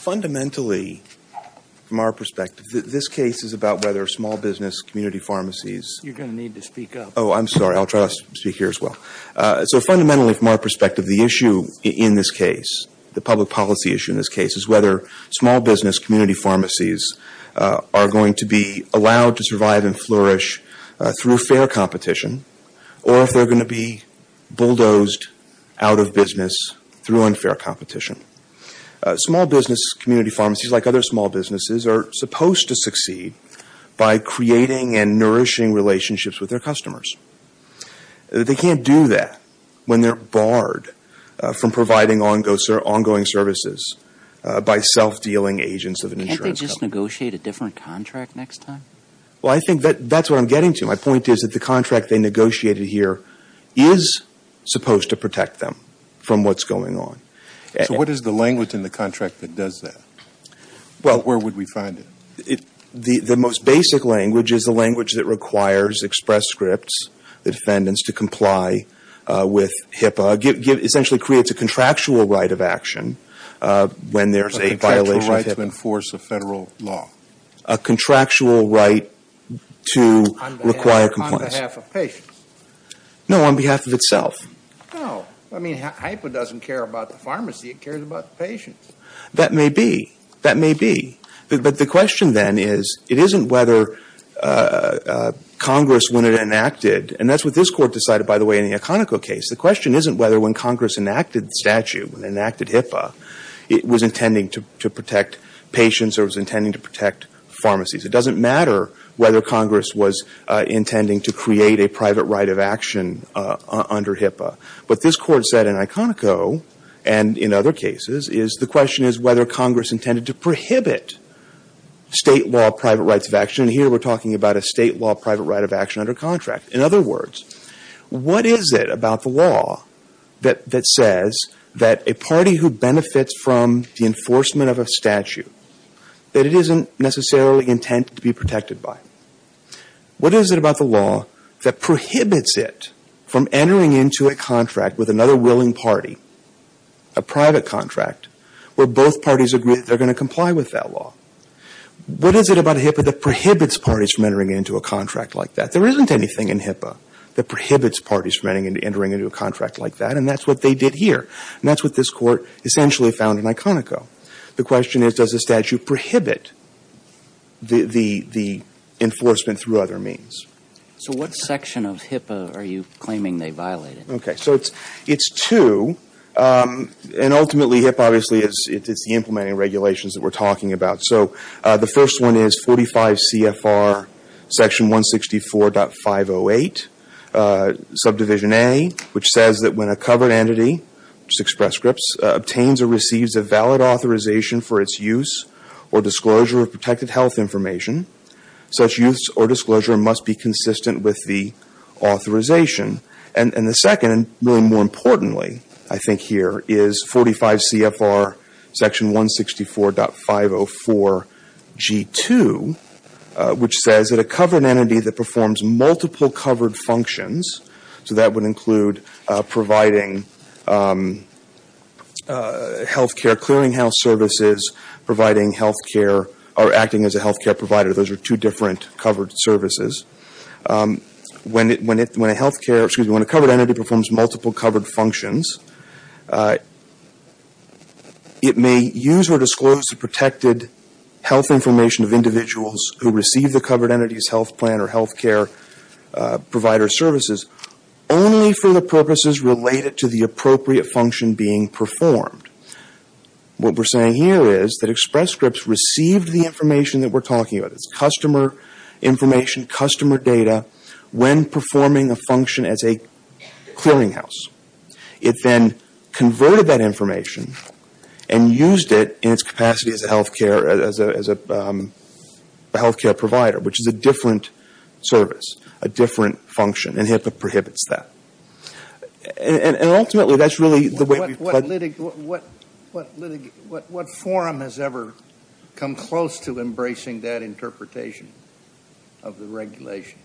Fundamentally, from our perspective, the issue in this case, the public policy issue in this case, is whether small business community pharmacies are going to be allowed to survive and flourish through fair competition or if they are going to be bulldozed out of business through unfair competition. Small business community pharmacies, like other small businesses, are supposed to succeed by creating and nourishing relationships with their customers. They can't do that when they are barred from providing ongoing services by self-dealing agents of an insurance company. Can't they just negotiate a different contract next time? Well, I think that's what I'm getting to. My point is that the contract they negotiated here is supposed to protect them from what's going on. So what is the language in the contract that does that? Where would we find it? The most basic language is the language that requires Express Scripts, the defendants, to comply with HIPAA, essentially creates a contractual right of action when there's a violation of HIPAA. A contractual right to enforce a federal law? A contractual right to require compliance. On behalf of patients? No, on behalf of itself. No. I mean, HIPAA doesn't care about the pharmacy, it cares about the patients. That may be. That may be. But the question then is, it isn't whether Congress, when it enacted, and that's what this Court decided, by the way, in the Iconico case, the question isn't whether when Congress enacted the statute, when they enacted HIPAA, it was intending to protect patients or was intending to protect pharmacies. It doesn't matter whether Congress was intending to create a private right of action under HIPAA. What this Court said in Iconico, and in other cases, is the question is whether Congress intended to prohibit state law private rights of action, and here we're talking about a state law private right of action under contract. In other words, what is it about the law that says that a party who benefits from the enforcement of a statute that it isn't necessarily intended to be protected by? What is it about the law that prohibits it from entering into a contract with another willing party, a private contract, where both parties agree that they're going to comply with that law? What is it about HIPAA that prohibits parties from entering into a contract like that? There isn't anything in HIPAA that prohibits parties from entering into a contract like that, and that's what they did here, and that's what this Court essentially found in Iconico. The question is, does the statute prohibit the enforcement through other means? So what section of HIPAA are you claiming they violated? Okay. So it's two, and ultimately HIPAA obviously is the implementing regulations that we're talking about. So the first one is 45 CFR section 164.508, subdivision A, which says that when a covered entity, express scripts, obtains or receives a valid authorization for its use or disclosure of protected health information, such use or disclosure must be consistent with the authorization. And the second, and more importantly, I think here, is 45 CFR section 164.504, G2, which says that a covered entity that performs multiple covered functions, so that would include providing health care, clearing house services, providing health care, or acting as a health care provider. Those are two different covered services. When a health care, excuse me, when a covered entity performs multiple covered functions, it may use or disclose the protected health information of individuals who receive the covered entity's health plan or health care provider services only for the purposes related to the appropriate function being performed. What we're saying here is that express scripts receive the information that we're talking about, it's customer information, customer data, when performing a function as a clearing house. It then converted that information and used it in its capacity as a health care provider, which is a different service, a different function, and HIPAA prohibits that. And ultimately, that's really the way we've plugged... What forum has ever come close to embracing that interpretation of the regulation?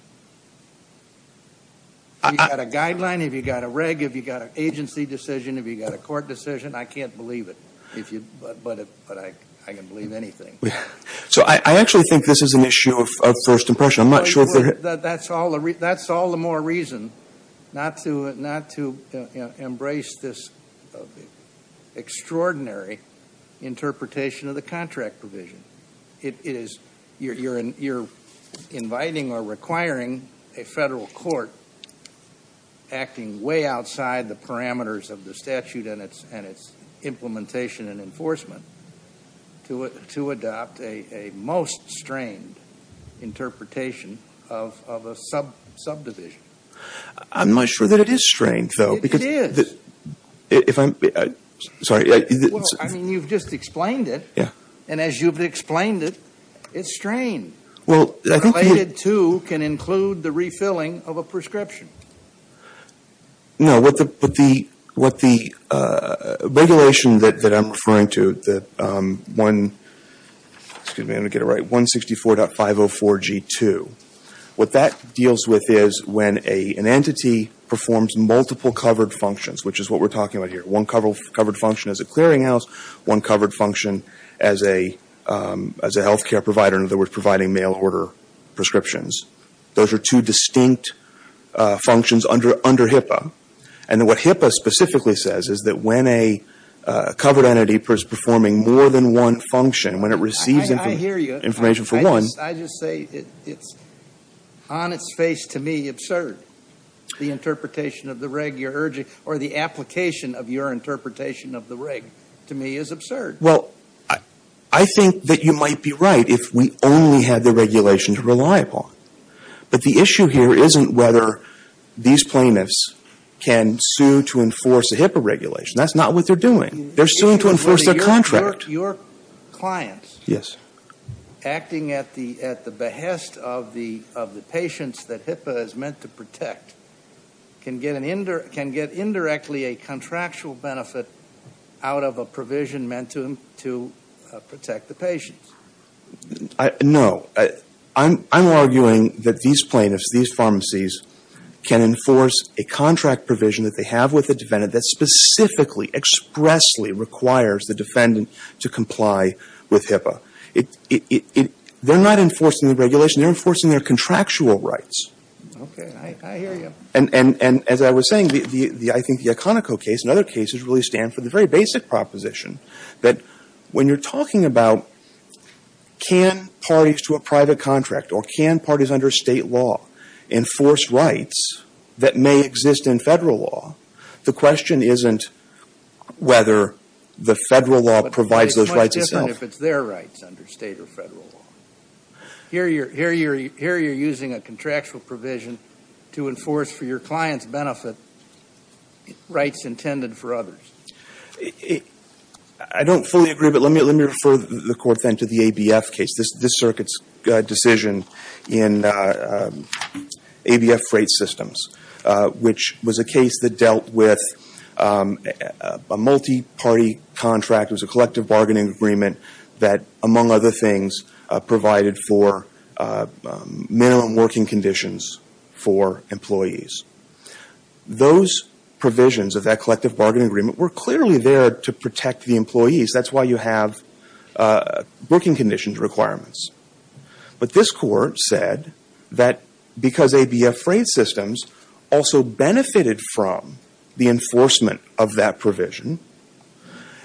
Have you got a guideline, have you got a reg, have you got an agency decision, have you got a court decision? I can't believe it, but I can believe anything. So I actually think this is an issue of first impression. That's all the more reason not to embrace this extraordinary interpretation of the contract provision. You're inviting or requiring a federal court acting way outside the parameters of the statute and its implementation and enforcement to adopt a most strained interpretation of the subdivision. I'm not sure that it is strained, though. It is. Sorry. Well, I mean, you've just explained it, and as you've explained it, it's strained. Related to can include the refilling of a prescription. No, but the regulation that I'm referring to, that 164.504G2, that's the one that's covered. What that deals with is when an entity performs multiple covered functions, which is what we're talking about here. One covered function as a clearinghouse, one covered function as a healthcare provider, in other words, providing mail order prescriptions. Those are two distinct functions under HIPAA. And then what HIPAA specifically says is that when a covered entity is performing more than one function, when it receives information for one. I hear you. I just say it's on its face to me absurd. The interpretation of the reg you're urging or the application of your interpretation of the reg to me is absurd. Well, I think that you might be right if we only had the regulation to rely upon. But the issue here isn't whether these plaintiffs can sue to enforce a HIPAA regulation. That's not what they're doing. They're suing to enforce their contract. But your clients acting at the behest of the patients that HIPAA is meant to protect can get indirectly a contractual benefit out of a provision meant to protect the patients. No. I'm arguing that these plaintiffs, these pharmacies, can enforce a contract provision that they to comply with HIPAA. They're not enforcing the regulation. They're enforcing their contractual rights. Okay. I hear you. And as I was saying, I think the Iconico case and other cases really stand for the very basic proposition that when you're talking about can parties to a private contract or can parties under state law enforce rights that may exist in federal law, the question isn't whether the federal law provides those rights itself. But it's much different if it's their rights under state or federal law. Here you're using a contractual provision to enforce for your client's benefit rights intended for others. I don't fully agree, but let me refer the Court then to the ABF case, this Circuit's decision in ABF Freight Systems, which was a case that dealt with a multi-party contract. It was a collective bargaining agreement that, among other things, provided for minimum working conditions for employees. Those provisions of that collective bargaining agreement were clearly there to protect the employees. That's why you have working conditions requirements. But this Court said that because ABF Freight Systems also benefited from the enforcement of that provision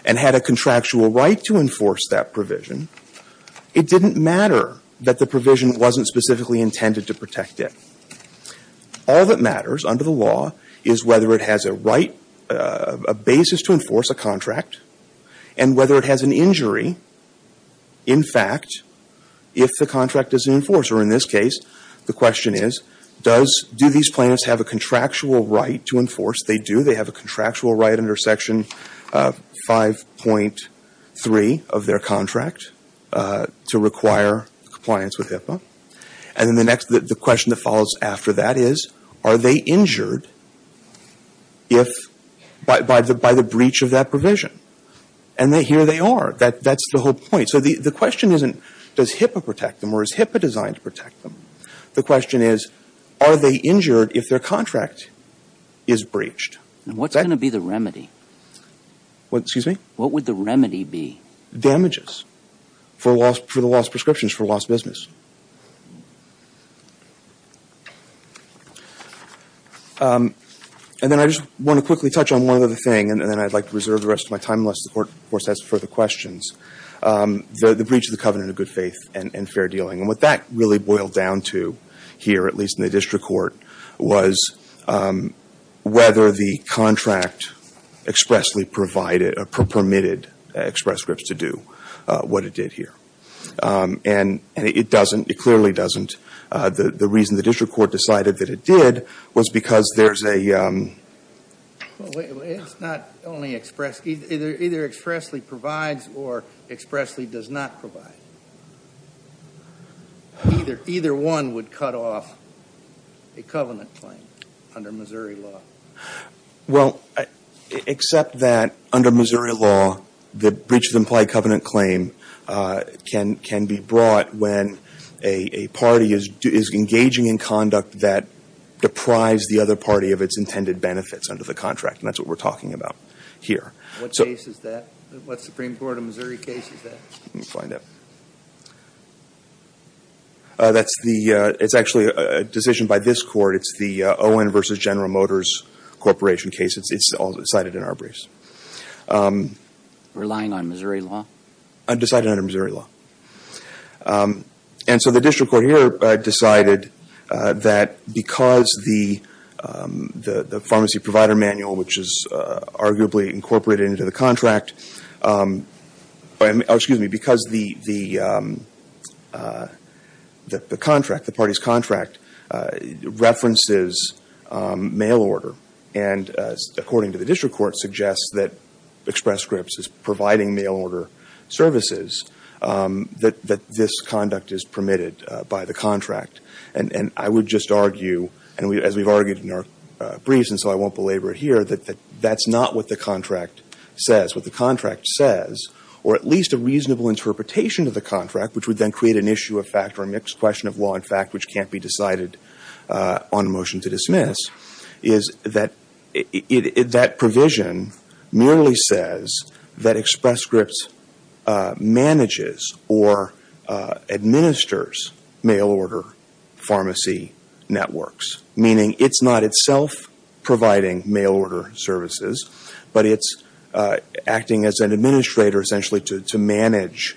and had a contractual right to enforce that provision, it didn't matter that the provision wasn't specifically intended to protect it. All that matters under the law is whether it has a right, a basis to enforce a contract and whether it has an injury, in fact, if the contract isn't enforced. Or in this case, the question is, do these plaintiffs have a contractual right to enforce? They do. They have a contractual right under Section 5.3 of their contract to require compliance with HIPAA. And then the question that follows after that is, are they injured by the breach of that contract? And here they are. That's the whole point. So the question isn't, does HIPAA protect them or is HIPAA designed to protect them? The question is, are they injured if their contract is breached? And what's going to be the remedy? What? Excuse me? What would the remedy be? Damages for the lost prescriptions, for lost business. And then I just want to quickly touch on one other thing, and then I'd like to reserve the rest of my time unless the Court, of course, has further questions. The breach of the covenant of good faith and fair dealing. And what that really boiled down to here, at least in the district court, was whether the contract expressly permitted Express Scripts to do what it did here. And it doesn't. It clearly doesn't. The reason the district court decided that it did was because there's a… It's not only express. Either expressly provides or expressly does not provide. Either one would cut off a covenant claim under Missouri law. Well, except that under Missouri law, the breach of the implied covenant claim can be brought when a party is engaging in conduct that deprives the other party of its intended benefits under the contract. And that's what we're talking about here. What case is that? What Supreme Court of Missouri case is that? Let me find it. It's actually a decision by this Court. It's the Owen v. General Motors Corporation case. It's cited in our briefs. Relying on Missouri law? Decided under Missouri law. And so the district court here decided that because the pharmacy provider manual, which is arguably incorporated into the contract, excuse me, because the contract, the party's contract, references mail order, and according to the district court suggests that Express Scripts is providing mail order services, that this conduct is permitted by the contract. And I would just argue, as we've argued in our briefs and so I won't belabor it here, that that's not what the contract says. What the contract says, or at least a reasonable interpretation of the contract, which would then create an issue of fact or a mixed question of law and fact, which can't be decided on motion to dismiss, is that that provision merely says that Express Scripts manages or administers mail order pharmacy networks, meaning it's not itself providing mail order services, but it's acting as an administrator essentially to manage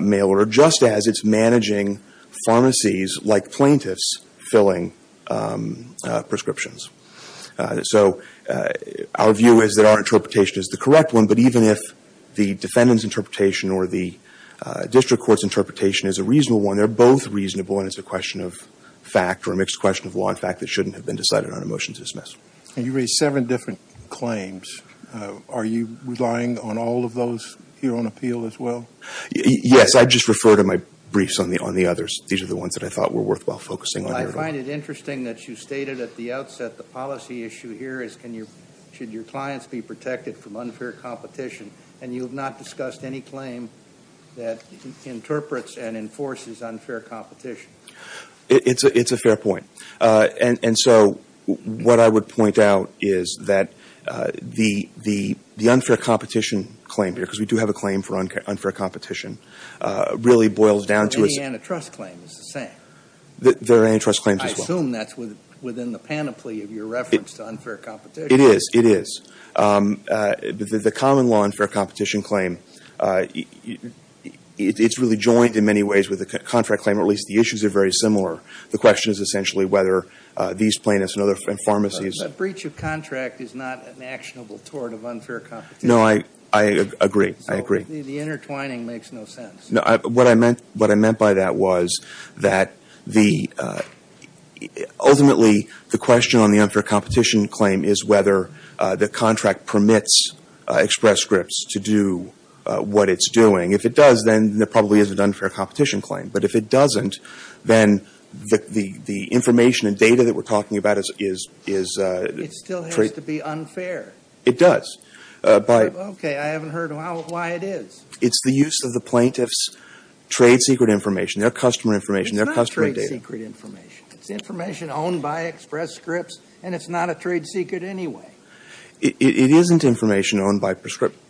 mail order, just as it's managing pharmacies like plaintiffs filling prescriptions. So our view is that our interpretation is the correct one, but even if the defendant's interpretation or the district court's interpretation is a reasonable one, they're both reasonable and it's a question of fact or a mixed question of law and fact that shouldn't have been decided on a motion to dismiss. And you raised seven different claims. Are you relying on all of those here on appeal as well? Yes, I just refer to my briefs on the others. These are the ones that I thought were worthwhile focusing on. Well, I find it interesting that you stated at the outset the policy issue here is should your clients be protected from unfair competition, and you have not discussed any claim that interprets and enforces unfair competition. It's a fair point. And so what I would point out is that the unfair competition claim here, because we do have a claim for unfair competition, really boils down to its – Any antitrust claim is the same. There are antitrust claims as well. I assume that's within the panoply of your reference to unfair competition. It is. It is. The common law unfair competition claim, it's really joined in many ways with the contract claim, or at least the issues are very similar. The question is essentially whether these plaintiffs and pharmacies – The breach of contract is not an actionable tort of unfair competition. No, I agree. I agree. The intertwining makes no sense. What I meant by that was that ultimately the question on the unfair competition claim is whether the contract permits Express Scripts to do what it's doing. If it does, then there probably is an unfair competition claim. But if it doesn't, then the information and data that we're talking about is – It still has to be unfair. It does. Okay. I haven't heard why it is. It's the use of the plaintiff's trade secret information, their customer information, their customer data. It's not trade secret information. It's information owned by Express Scripts, and it's not a trade secret anyway. It isn't information owned by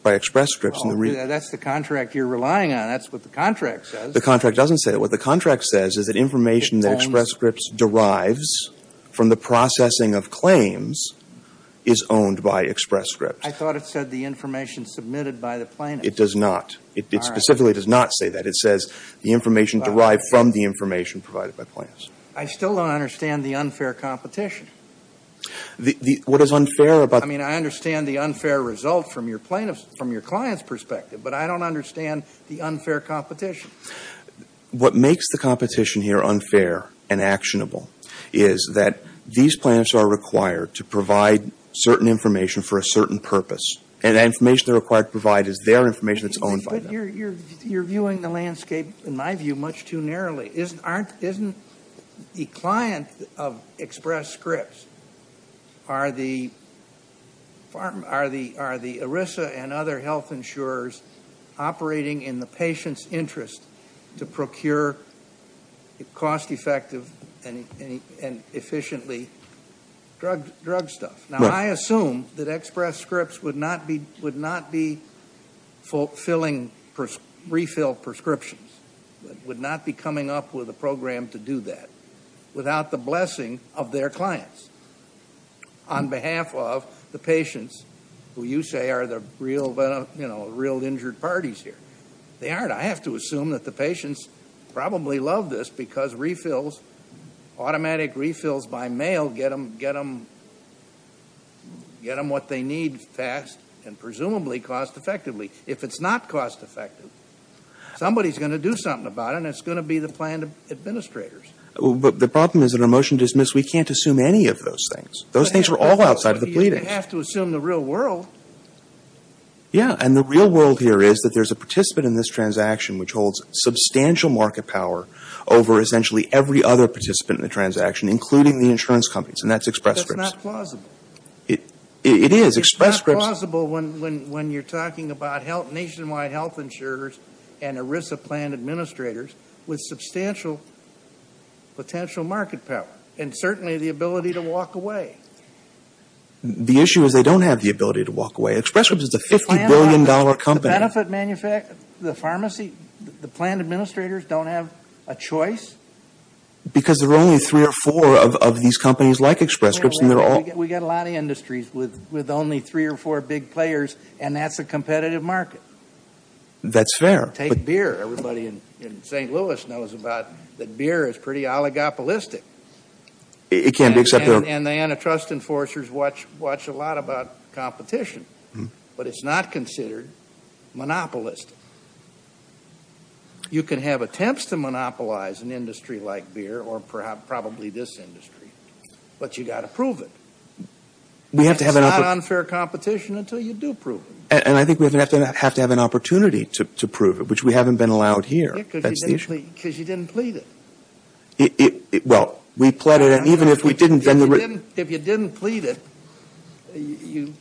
Express Scripts. That's the contract you're relying on. That's what the contract says. The contract doesn't say that. What the contract says is that information that Express Scripts derives from the processing of claims is owned by Express Scripts. I thought it said the information submitted by the plaintiff. It does not. It specifically does not say that. It says the information derived from the information provided by plaintiffs. I still don't understand the unfair competition. What is unfair about – I mean, I understand the unfair result from your client's perspective, but I don't understand the unfair competition. What makes the competition here unfair and actionable is that these plaintiffs are required to provide certain information for a certain purpose, and that information they're required to provide is their information that's owned by them. But you're viewing the landscape, in my view, much too narrowly. Isn't the client of Express Scripts – are the ERISA and other health insurers operating in the patient's interest to procure cost-effective and efficiently drug stuff? Now, I assume that Express Scripts would not be refilling prescriptions, would not be coming up with a program to do that, without the blessing of their clients on behalf of the patients who you say are the real injured parties here. They aren't. I have to assume that the patients probably love this because automatic refills by mail get them what they need fast and presumably cost-effectively. If it's not cost-effective, somebody's going to do something about it, and it's going to be the plaintiff's administrators. But the problem is that in a motion to dismiss, we can't assume any of those things. Those things are all outside of the pleading. You have to assume the real world. Yeah, and the real world here is that there's a participant in this transaction which holds substantial market power over essentially every other participant in the transaction, including the insurance companies, and that's Express Scripts. That's not plausible. It is. Express Scripts – we have nationwide health insurers and ERISA plant administrators with substantial potential market power and certainly the ability to walk away. The issue is they don't have the ability to walk away. Express Scripts is a $50 billion company. The benefit manufacturers, the pharmacy, the plant administrators don't have a choice? Because there are only three or four of these companies like Express Scripts. We've got a lot of industries with only three or four big players, and that's a competitive market. That's fair. Take beer. Everybody in St. Louis knows that beer is pretty oligopolistic. It can be, except they're – And the antitrust enforcers watch a lot about competition, but it's not considered monopolistic. You can have attempts to monopolize an industry like beer or probably this industry, but you've got to prove it. It's not unfair competition until you do prove it. And I think we have to have an opportunity to prove it, which we haven't been allowed here. Because you didn't plead it. Well, we pleaded it. If you didn't plead it, you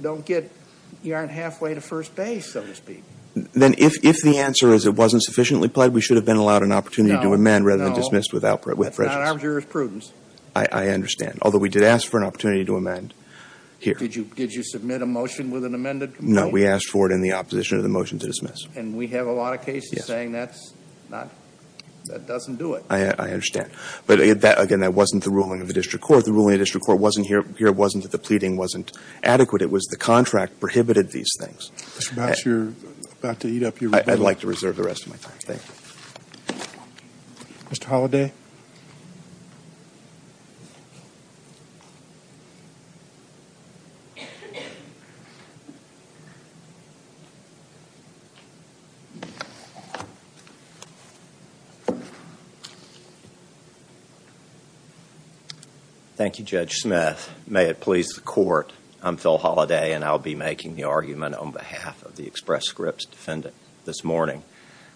don't get – you aren't halfway to first base, so to speak. Then if the answer is it wasn't sufficiently pled, we should have been allowed an opportunity to amend rather than dismissed with prejudice. No, no. It's not arbitrariness. It's prudence. I understand, although we did ask for an opportunity to amend here. Did you submit a motion with an amended complaint? No, we asked for it in the opposition of the motion to dismiss. And we have a lot of cases saying that's not – that doesn't do it. I understand. But, again, that wasn't the ruling of the district court. The ruling of the district court wasn't here. It wasn't that the pleading wasn't adequate. It was the contract prohibited these things. Mr. Boucher, you're about to eat up your rebuttal. I'd like to reserve the rest of my time. Thank you. Mr. Holliday. Thank you, Judge Smith. May it please the court, I'm Phil Holliday, and I'll be making the argument on behalf of the express scripts defendant this morning.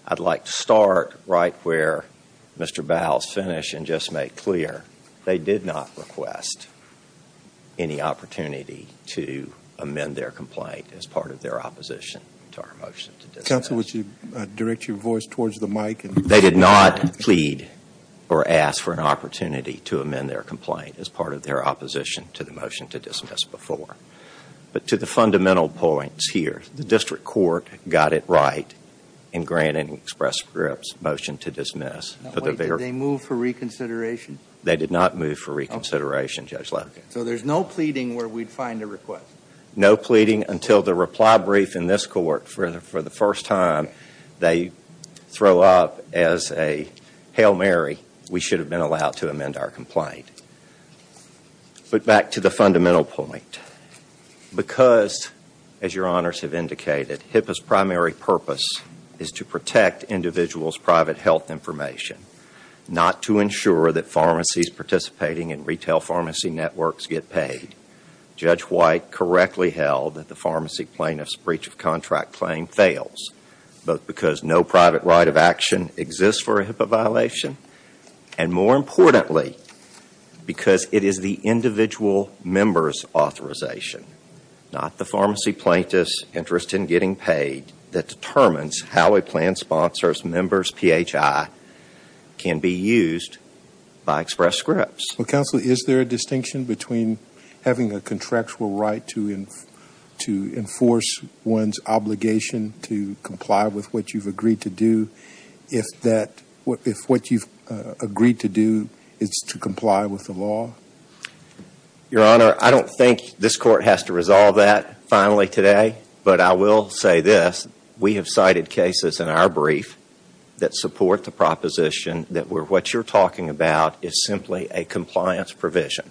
I'd like to start right where Mr. Bowles finished and just make clear they did not request any opportunity to amend their complaint as part of their opposition to our motion to dismiss. Counsel, would you direct your voice towards the mic? They did not plead or ask for an opportunity to amend their complaint as part of their opposition to the motion to dismiss before. But to the fundamental points here, the district court got it right in granting express scripts motion to dismiss. Did they move for reconsideration? They did not move for reconsideration, Judge Logan. So there's no pleading where we'd find a request? No pleading until the reply brief in this court for the first time they throw up as a hail Mary, we should have been allowed to amend our complaint. But back to the fundamental point, because as your honors have indicated, HIPAA's primary purpose is to protect individuals' private health information, not to ensure that pharmacies participating in retail pharmacy networks get paid. Judge White correctly held that the pharmacy plaintiff's breach of contract claim fails both because no private right of action exists for a HIPAA violation and more importantly, because it is the individual member's authorization, not the pharmacy plaintiff's interest in getting paid, that determines how a plan sponsor's member's PHI can be used by express scripts. Counsel, is there a distinction between having a contractual right to enforce one's obligation to comply with what you've agreed to do if what you've agreed to do is to comply with the law? Your honor, I don't think this court has to resolve that finally today, but I will say this, we have cited cases in our brief that support the proposition that what you're talking about is simply a compliance provision,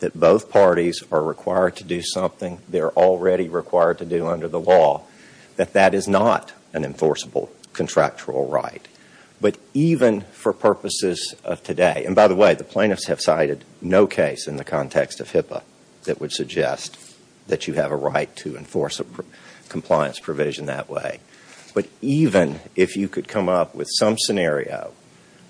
that both parties are required to do something they're already required to do under the law, that that is not an enforceable contractual right. But even for purposes of today, and by the way, the plaintiffs have cited no case in the context of HIPAA that would suggest that you have a right to enforce a compliance provision that way. But even if you could come up with some scenario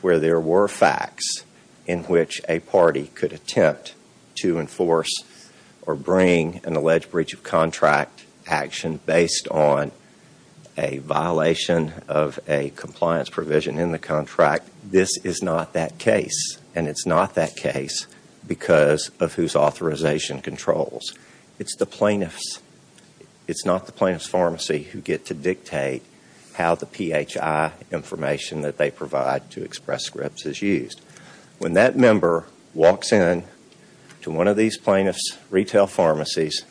where there were facts in which a party could attempt to enforce or bring an alleged breach of contract action based on a violation of a compliance provision in the contract, this is not that case. And it's not that case because of whose authorization controls. It's the plaintiffs. It's not the plaintiff's pharmacy who get to dictate how the PHI information that they provide to express scripts is used. When that member walks in to one of these plaintiffs' retail pharmacies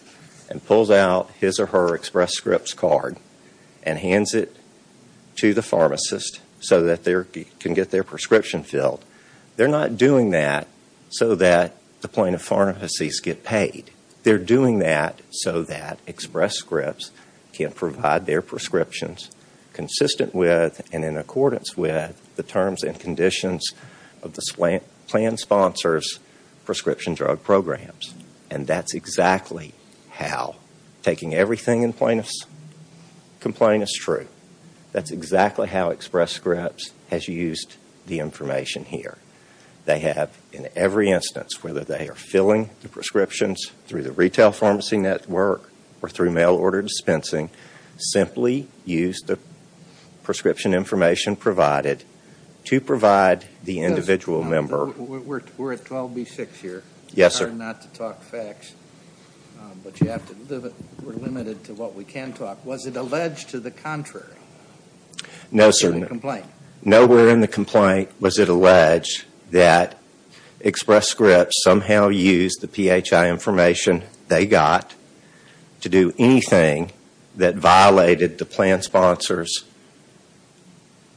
and pulls out his or her express scripts card and hands it to the pharmacist so that they can get their prescription filled, they're not doing that so that the plaintiff's pharmacies get paid. They're doing that so that express scripts can provide their prescriptions consistent with and in accordance with the terms and conditions of the plan sponsor's prescription drug programs. And that's exactly how, taking everything in plaintiff's complaint as true, that's exactly how express scripts has used the information here. They have, in every instance, whether they are filling the prescriptions through the retail pharmacy network or through mail order dispensing, simply used the prescription information provided to provide the individual member. We're at 12B6 here. Yes, sir. Sorry not to talk facts, but we're limited to what we can talk. Was it alleged to the contrary? No, sir. In the complaint? Nowhere in the complaint was it alleged that express scripts somehow used the PHI information they got to do anything that violated the plan sponsor's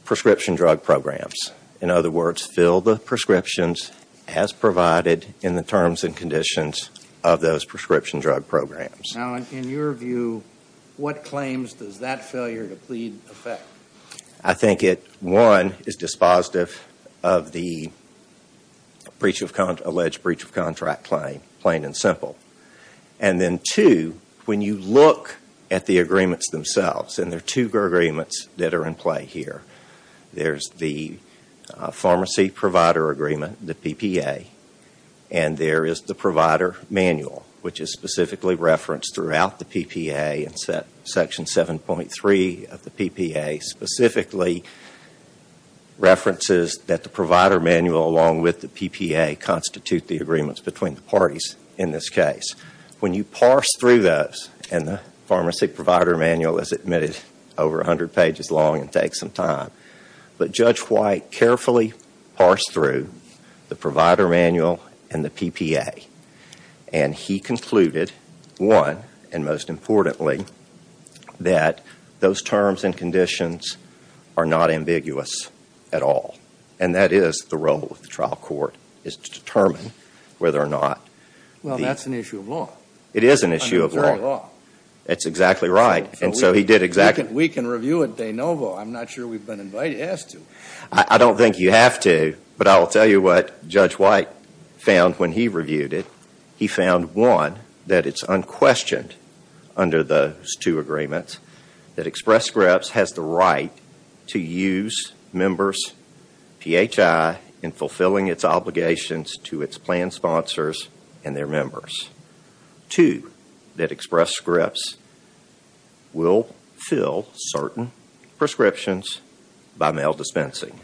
prescription drug programs. In other words, fill the prescriptions as provided in the terms and conditions of those prescription drug programs. Now, in your view, what claims does that failure to plead affect? I think it, one, is dispositive of the alleged breach of contract claim, plain and simple. And then, two, when you look at the agreements themselves, and there are two agreements that are in play here. There's the pharmacy provider agreement, the PPA, and there is the provider manual, which is specifically referenced throughout the PPA. And section 7.3 of the PPA specifically references that the provider manual along with the PPA constitute the agreements between the parties in this case. When you parse through those, and the pharmacy provider manual is admitted over 100 pages long and takes some time. But Judge White carefully parsed through the provider manual and the PPA. And he concluded, one, and most importantly, that those terms and conditions are not ambiguous at all. And that is the role of the trial court, is to determine whether or not... Well, that's an issue of law. It is an issue of law. Under current law. That's exactly right. And so he did exactly... We can review it de novo. I'm not sure we've been asked to. I don't think you have to, but I'll tell you what Judge White found when he reviewed it. He found, one, that it's unquestioned under those two agreements that Express Scripts has the right to use members, PHI, in fulfilling its obligations to its plan sponsors and their members. Two, that Express Scripts will fill certain prescriptions by mail dispensing.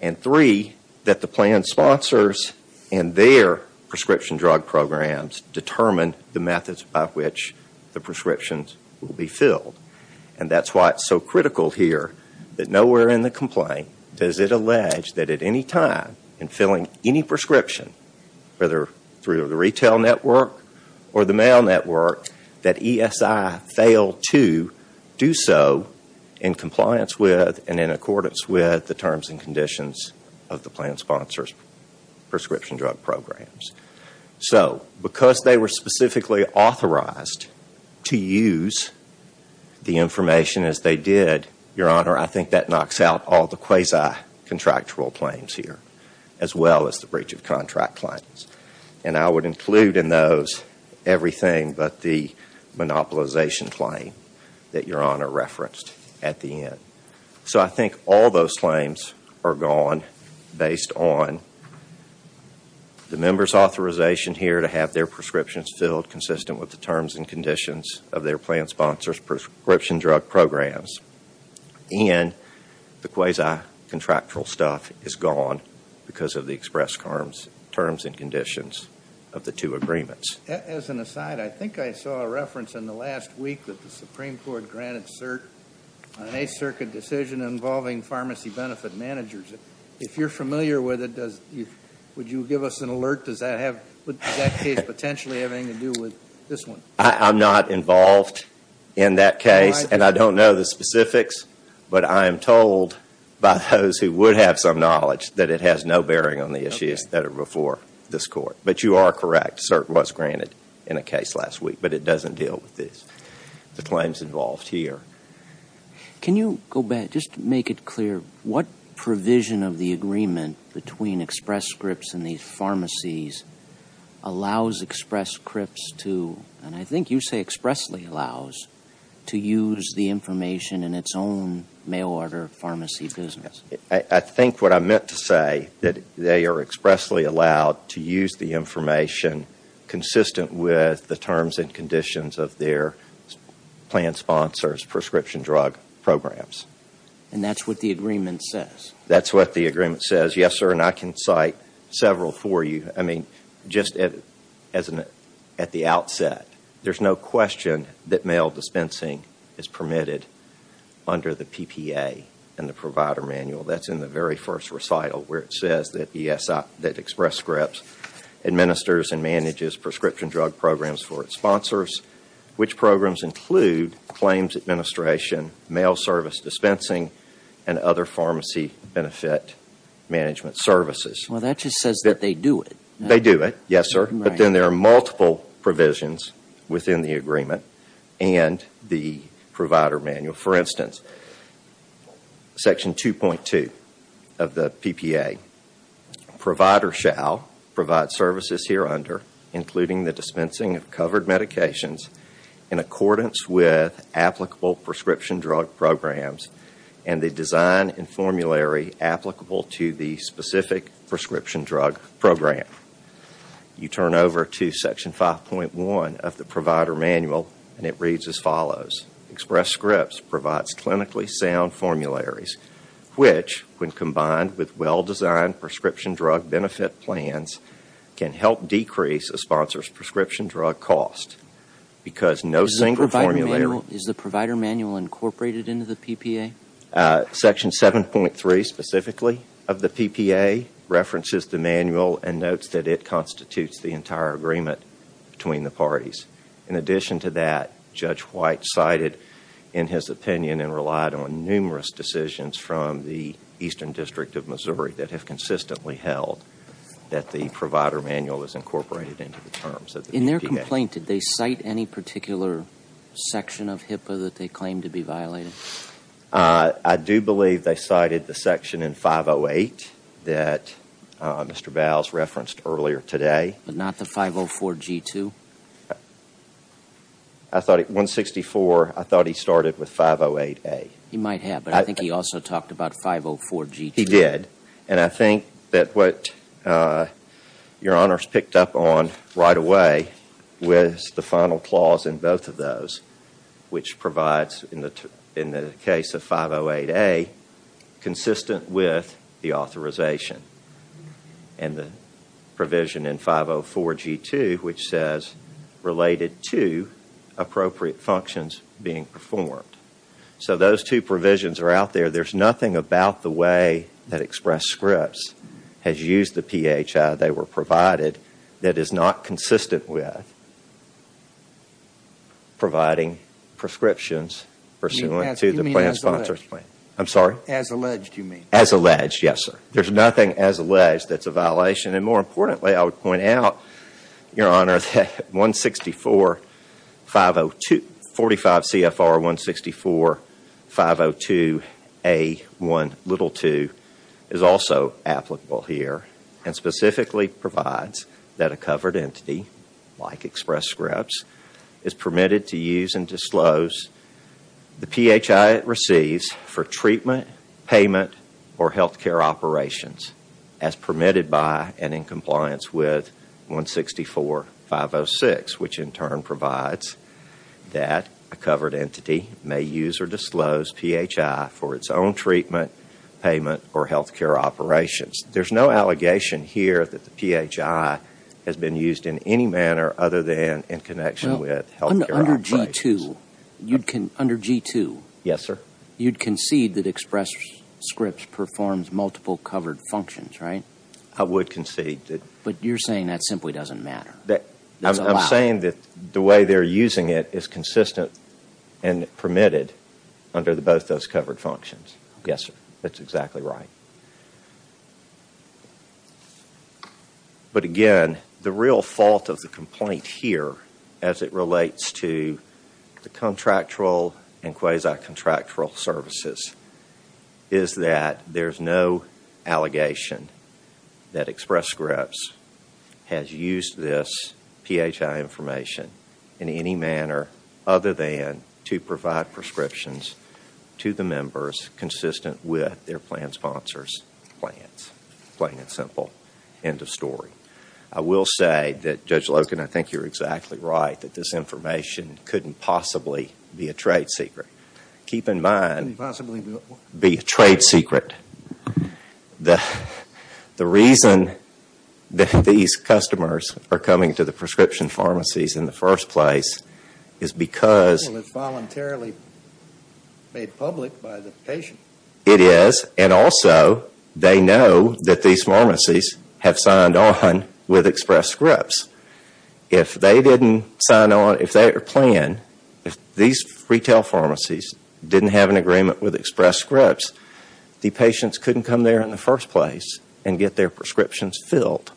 And three, that the plan sponsors and their prescription drug programs determine the methods by which the prescriptions will be filled. And that's why it's so critical here that nowhere in the complaint does it allege that at any time in filling any prescription, whether through the retail network or the mail network, that ESI fail to do so in compliance with and in accordance with the terms and conditions of the plan sponsors' prescription drug programs. So because they were specifically authorized to use the information as they did, Your Honor, I think that knocks out all the quasi-contractual claims here, as well as the breach of contract claims. And I would include in those everything but the monopolization claim that Your Honor referenced at the end. So I think all those claims are gone based on the members' authorization here to have their prescriptions filled consistent with the terms and conditions of their plan sponsors' prescription drug programs. And the quasi-contractual stuff is gone because of the express terms and conditions of the two agreements. As an aside, I think I saw a reference in the last week that the Supreme Court granted cert on an Eighth Circuit decision involving pharmacy benefit managers. If you're familiar with it, would you give us an alert? Does that case potentially have anything to do with this one? I'm not involved in that case, and I don't know the specifics, but I am told by those who would have some knowledge that it has no bearing on the issues that are before this Court. But you are correct, cert was granted in a case last week, but it doesn't deal with the claims involved here. Can you go back, just to make it clear, what provision of the agreement between Express Scripts and these pharmacies allows Express Scripts to, and I think you say expressly allows, to use the information in its own mail-order pharmacy business? I think what I meant to say, that they are expressly allowed to use the information consistent with the terms and conditions of their plan sponsors' prescription drug programs. And that's what the agreement says? That's what the agreement says, yes, sir, and I can cite several for you. I mean, just at the outset, there's no question that mail dispensing is permitted under the PPA and the provider manual. That's in the very first recital where it says that Express Scripts administers and manages prescription drug programs for its sponsors, which programs include claims administration, mail service dispensing, and other pharmacy benefit management services. Well, that just says that they do it. They do it, yes, sir, but then there are multiple provisions within the agreement and the provider manual. For instance, Section 2.2 of the PPA, provider shall provide services here under, including the dispensing of covered medications, in accordance with applicable prescription drug programs and the design and formulary applicable to the specific prescription drug program. You turn over to Section 5.1 of the provider manual and it reads as follows. Express Scripts provides clinically sound formularies, which when combined with well-designed prescription drug benefit plans can help decrease a sponsor's prescription drug cost because no single formulary Is the provider manual incorporated into the PPA? Section 7.3 specifically of the PPA references the manual and notes that it constitutes the entire agreement between the parties. In addition to that, Judge White cited in his opinion that have consistently held that the provider manual is incorporated into the terms of the PPA. In their complaint, did they cite any particular section of HIPAA that they claim to be violating? I do believe they cited the section in 508 that Mr. Bowles referenced earlier today. But not the 504G2? I thought at 164, I thought he started with 508A. He might have, but I think he also talked about 504G2. He did, and I think that what your honors picked up on right away was the final clause in both of those which provides in the case of 508A consistent with the authorization and the provision in 504G2 which says related to appropriate functions being performed. So those two provisions are out there. There's nothing about the way that Express Scripts has used the PHI they were provided that is not consistent with providing prescriptions pursuant to the plan sponsors plan. You mean as alleged? I'm sorry? As alleged you mean? As alleged, yes sir. There's nothing as alleged that's a violation. And more importantly I would point out, your honor, that 45CFR164502A1l2 is also applicable here and specifically provides that a covered entity like Express Scripts is permitted to use and disclose the PHI it receives for treatment, payment, or health care operations as permitted by and in compliance with 164506 which in turn provides that a covered entity may use or disclose PHI for its own treatment, payment, or health care operations. There's no allegation here that the PHI has been used in any manner other than in connection with health care operations. Under G2, you'd concede that Express Scripts performs multiple covered functions, right? I would concede that. But you're saying that simply doesn't matter. I'm saying that the way they're using it is consistent and permitted under both those covered functions. Yes, sir. That's exactly right. But again, the real fault of the complaint here as it relates to the contractual and quasi-contractual services is that there's no allegation that Express Scripts has used this PHI information in any manner that is consistent with their plan sponsors' plans. Plain and simple. End of story. I will say that, Judge Logan, I think you're exactly right that this information couldn't possibly be a trade secret. Keep in mind... Couldn't possibly be what? ...be a trade secret. The reason that these customers are coming to the prescription pharmacies in the first place is because... It is, and also they know that these pharmacies have signed on with Express Scripts. If they didn't sign on, if they didn't plan, if these retail pharmacies didn't have an agreement with Express Scripts, the patients couldn't come there in the first place and get their prescriptions filled.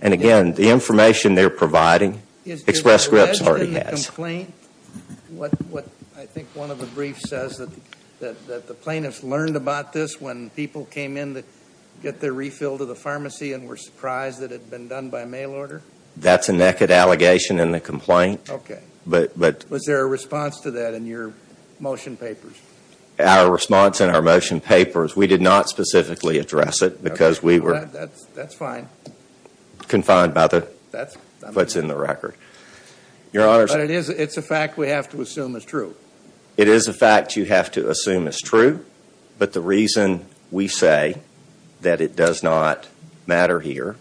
And again, the information they're providing, Express Scripts already has. I think one of the briefs says that the plaintiffs learned about this when people came in to get their refill to the pharmacy and were surprised that it had been done by mail order. That's a naked allegation in the complaint. Was there a response to that in your motion papers? Our response in our motion papers, we did not specifically address it because we were... That's fine. ...confined by what's in the record. But it's a fact we have to assume is true. It is a fact you have to assume is true, but the reason we say that it does not matter here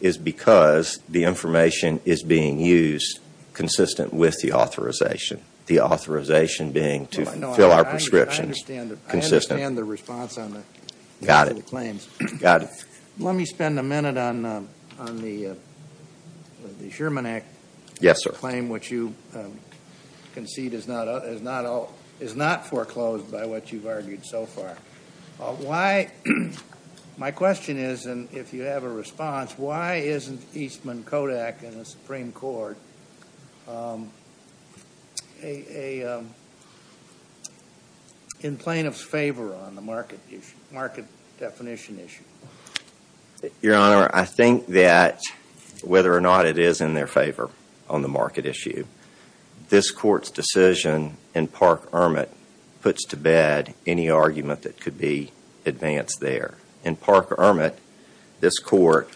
is because the information is being used consistent with the authorization, the authorization being to fill our prescriptions consistent. I understand the response on the claims. Got it. Let me spend a minute on the Sherman Act... Yes, sir. ...claim which you concede is not foreclosed by what you've argued so far. My question is, and if you have a response, why isn't Eastman Kodak in the Supreme Court in plaintiff's favor on the market definition issue? Your Honor, I think that whether or not it is in their favor on the market issue, this Court's decision in Park-Ermit puts to bed any argument that could be advanced there. In Park-Ermit, this Court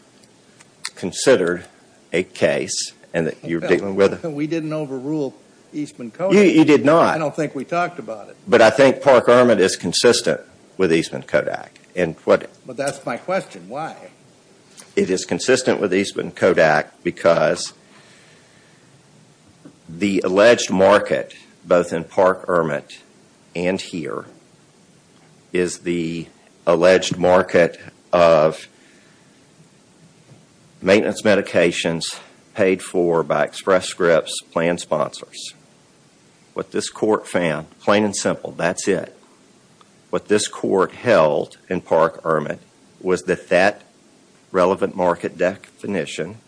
considered a case and that you're dealing with... We didn't overrule Eastman Kodak. You did not. I don't think we talked about it. But I think Park-Ermit is consistent with Eastman Kodak. But that's my question. Why? It is consistent with Eastman Kodak because the alleged market, both in Park-Ermit and here, is the alleged market of maintenance medications paid for by Express Script's planned sponsors. What this Court found, plain and simple, that's it. What this Court held in Park-Ermit was that that relevant market definition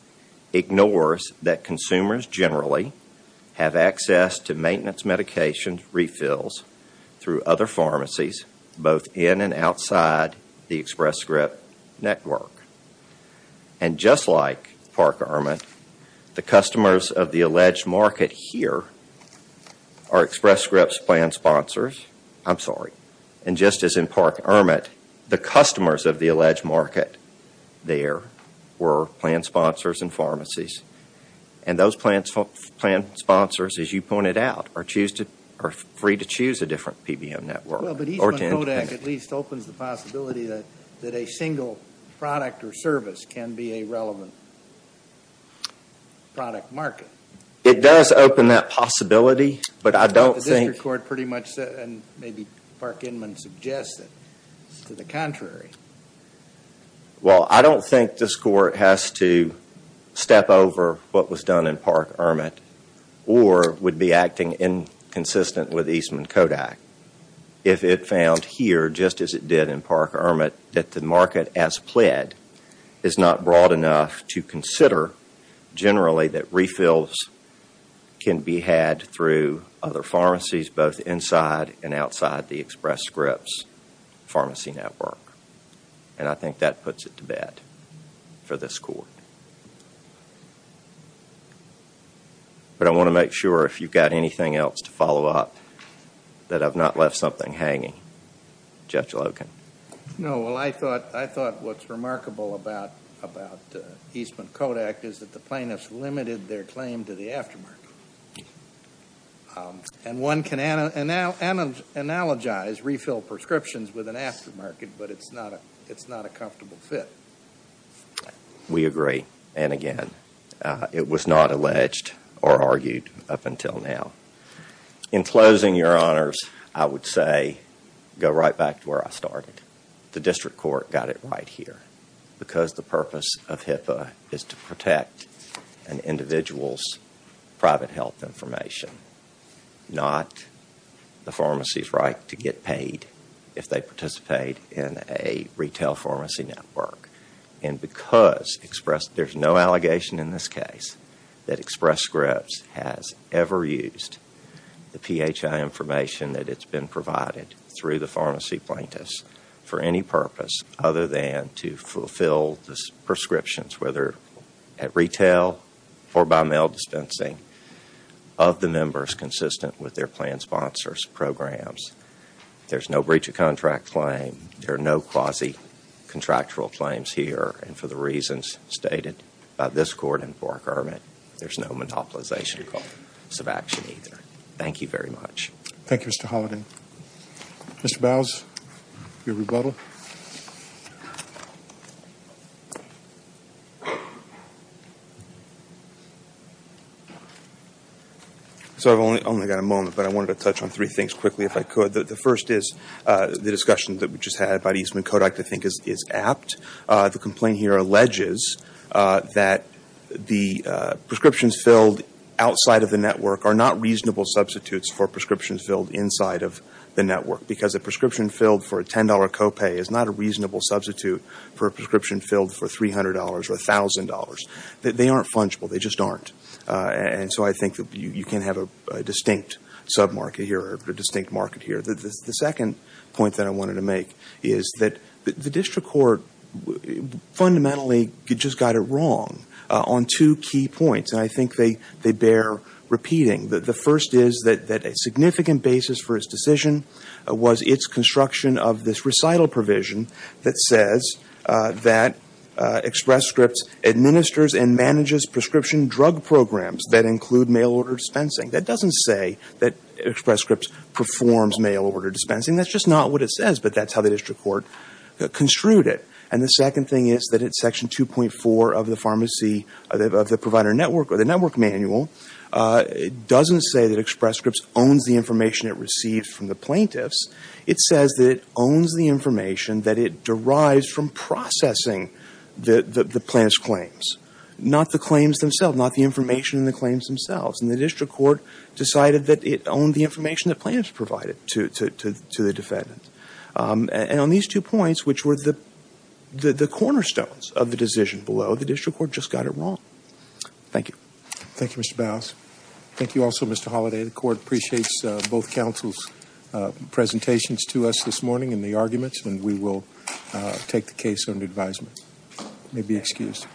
ignores that consumers generally have access to maintenance medication refills through other pharmacies, both in and outside the Express Script network. And just like Park-Ermit, the customers of the alleged market here are Express Script's planned sponsors. I'm sorry. And just as in Park-Ermit, the customers of the alleged market there were planned sponsors and pharmacies. And those planned sponsors, as you pointed out, are free to choose a different PBM network. Well, but Eastman Kodak at least opens the possibility that a single product or service can be a relevant product market. It does open that possibility, but I don't think... And maybe Park Inman suggests that it's to the contrary. Well, I don't think this Court has to step over what was done in Park-Ermit or would be acting inconsistent with Eastman Kodak if it found here, just as it did in Park-Ermit, that the market as pled is not broad enough to consider generally that refills can be had through other pharmacies, both inside and outside the Express Script's pharmacy network. And I think that puts it to bed for this Court. But I want to make sure, if you've got anything else to follow up, that I've not left something hanging. Judge Loken. No, well, I thought what's remarkable about Eastman Kodak is that the plaintiffs limited their claim to the aftermarket. And one can analogize refill prescriptions with an aftermarket, but it's not a comfortable fit. We agree, and again, it was not alleged or argued up until now. In closing, Your Honors, I would say, go right back to where I started. The District Court got it right here. Because the purpose of HIPAA is to protect an individual's private health information, not the pharmacy's right to get paid if they participate in a retail pharmacy network. And because there's no allegation in this case that Express Scripts has ever used the PHI information that it's been provided through the pharmacy plaintiffs for any purpose other than to fulfill the prescriptions, whether at retail or by mail dispensing, of the members consistent with their planned sponsors' programs. There's no breach of contract claim. There are no quasi-contractual claims here. And for the reasons stated by this Court and Clark Hermitt, there's no monopolization of action either. Thank you very much. Thank you, Mr. Holliday. Mr. Bowles, your rebuttal. So I've only got a moment, but I wanted to touch on three things quickly if I could. The first is the discussion that we just had about Eastman Kodak I think is apt. The complaint here alleges that the prescriptions filled outside of the network are not reasonable substitutes for prescriptions filled inside of the network because a prescription filled for a $10 copay is not a reasonable substitute for a prescription filled for $300 or $1,000. They aren't fungible. They just aren't. And so I think that you can have a distinct market here. The second point that I wanted to make is that the district court fundamentally just got it wrong on two key points, and I think they bear repeating. The first is that a significant basis for its decision was its construction of this recital provision that says that Express Scripts administers and manages prescription drug programs that include mail-order dispensing. That doesn't say that Express Scripts performs mail-order dispensing. That's just not what it says, but that's how the district court construed it. And the second thing is that in Section 2.4 of the pharmacy of the provider network or the network manual, it doesn't say that Express Scripts owns the information it receives from the plaintiffs. It says that it owns the information that it derives from processing the plaintiff's claims, not the claims themselves, not the information in the claims themselves. And the district court decided that it owned the information that plaintiffs provided to the defendant. And on these two points, which were the cornerstones of the decision below, the district court just got it wrong. Thank you. Thank you, Mr. Bowles. Thank you also, Mr. Holliday. The court appreciates both counsel's presentations to us this morning and the arguments, and we will take the case under advisement. You may be excused.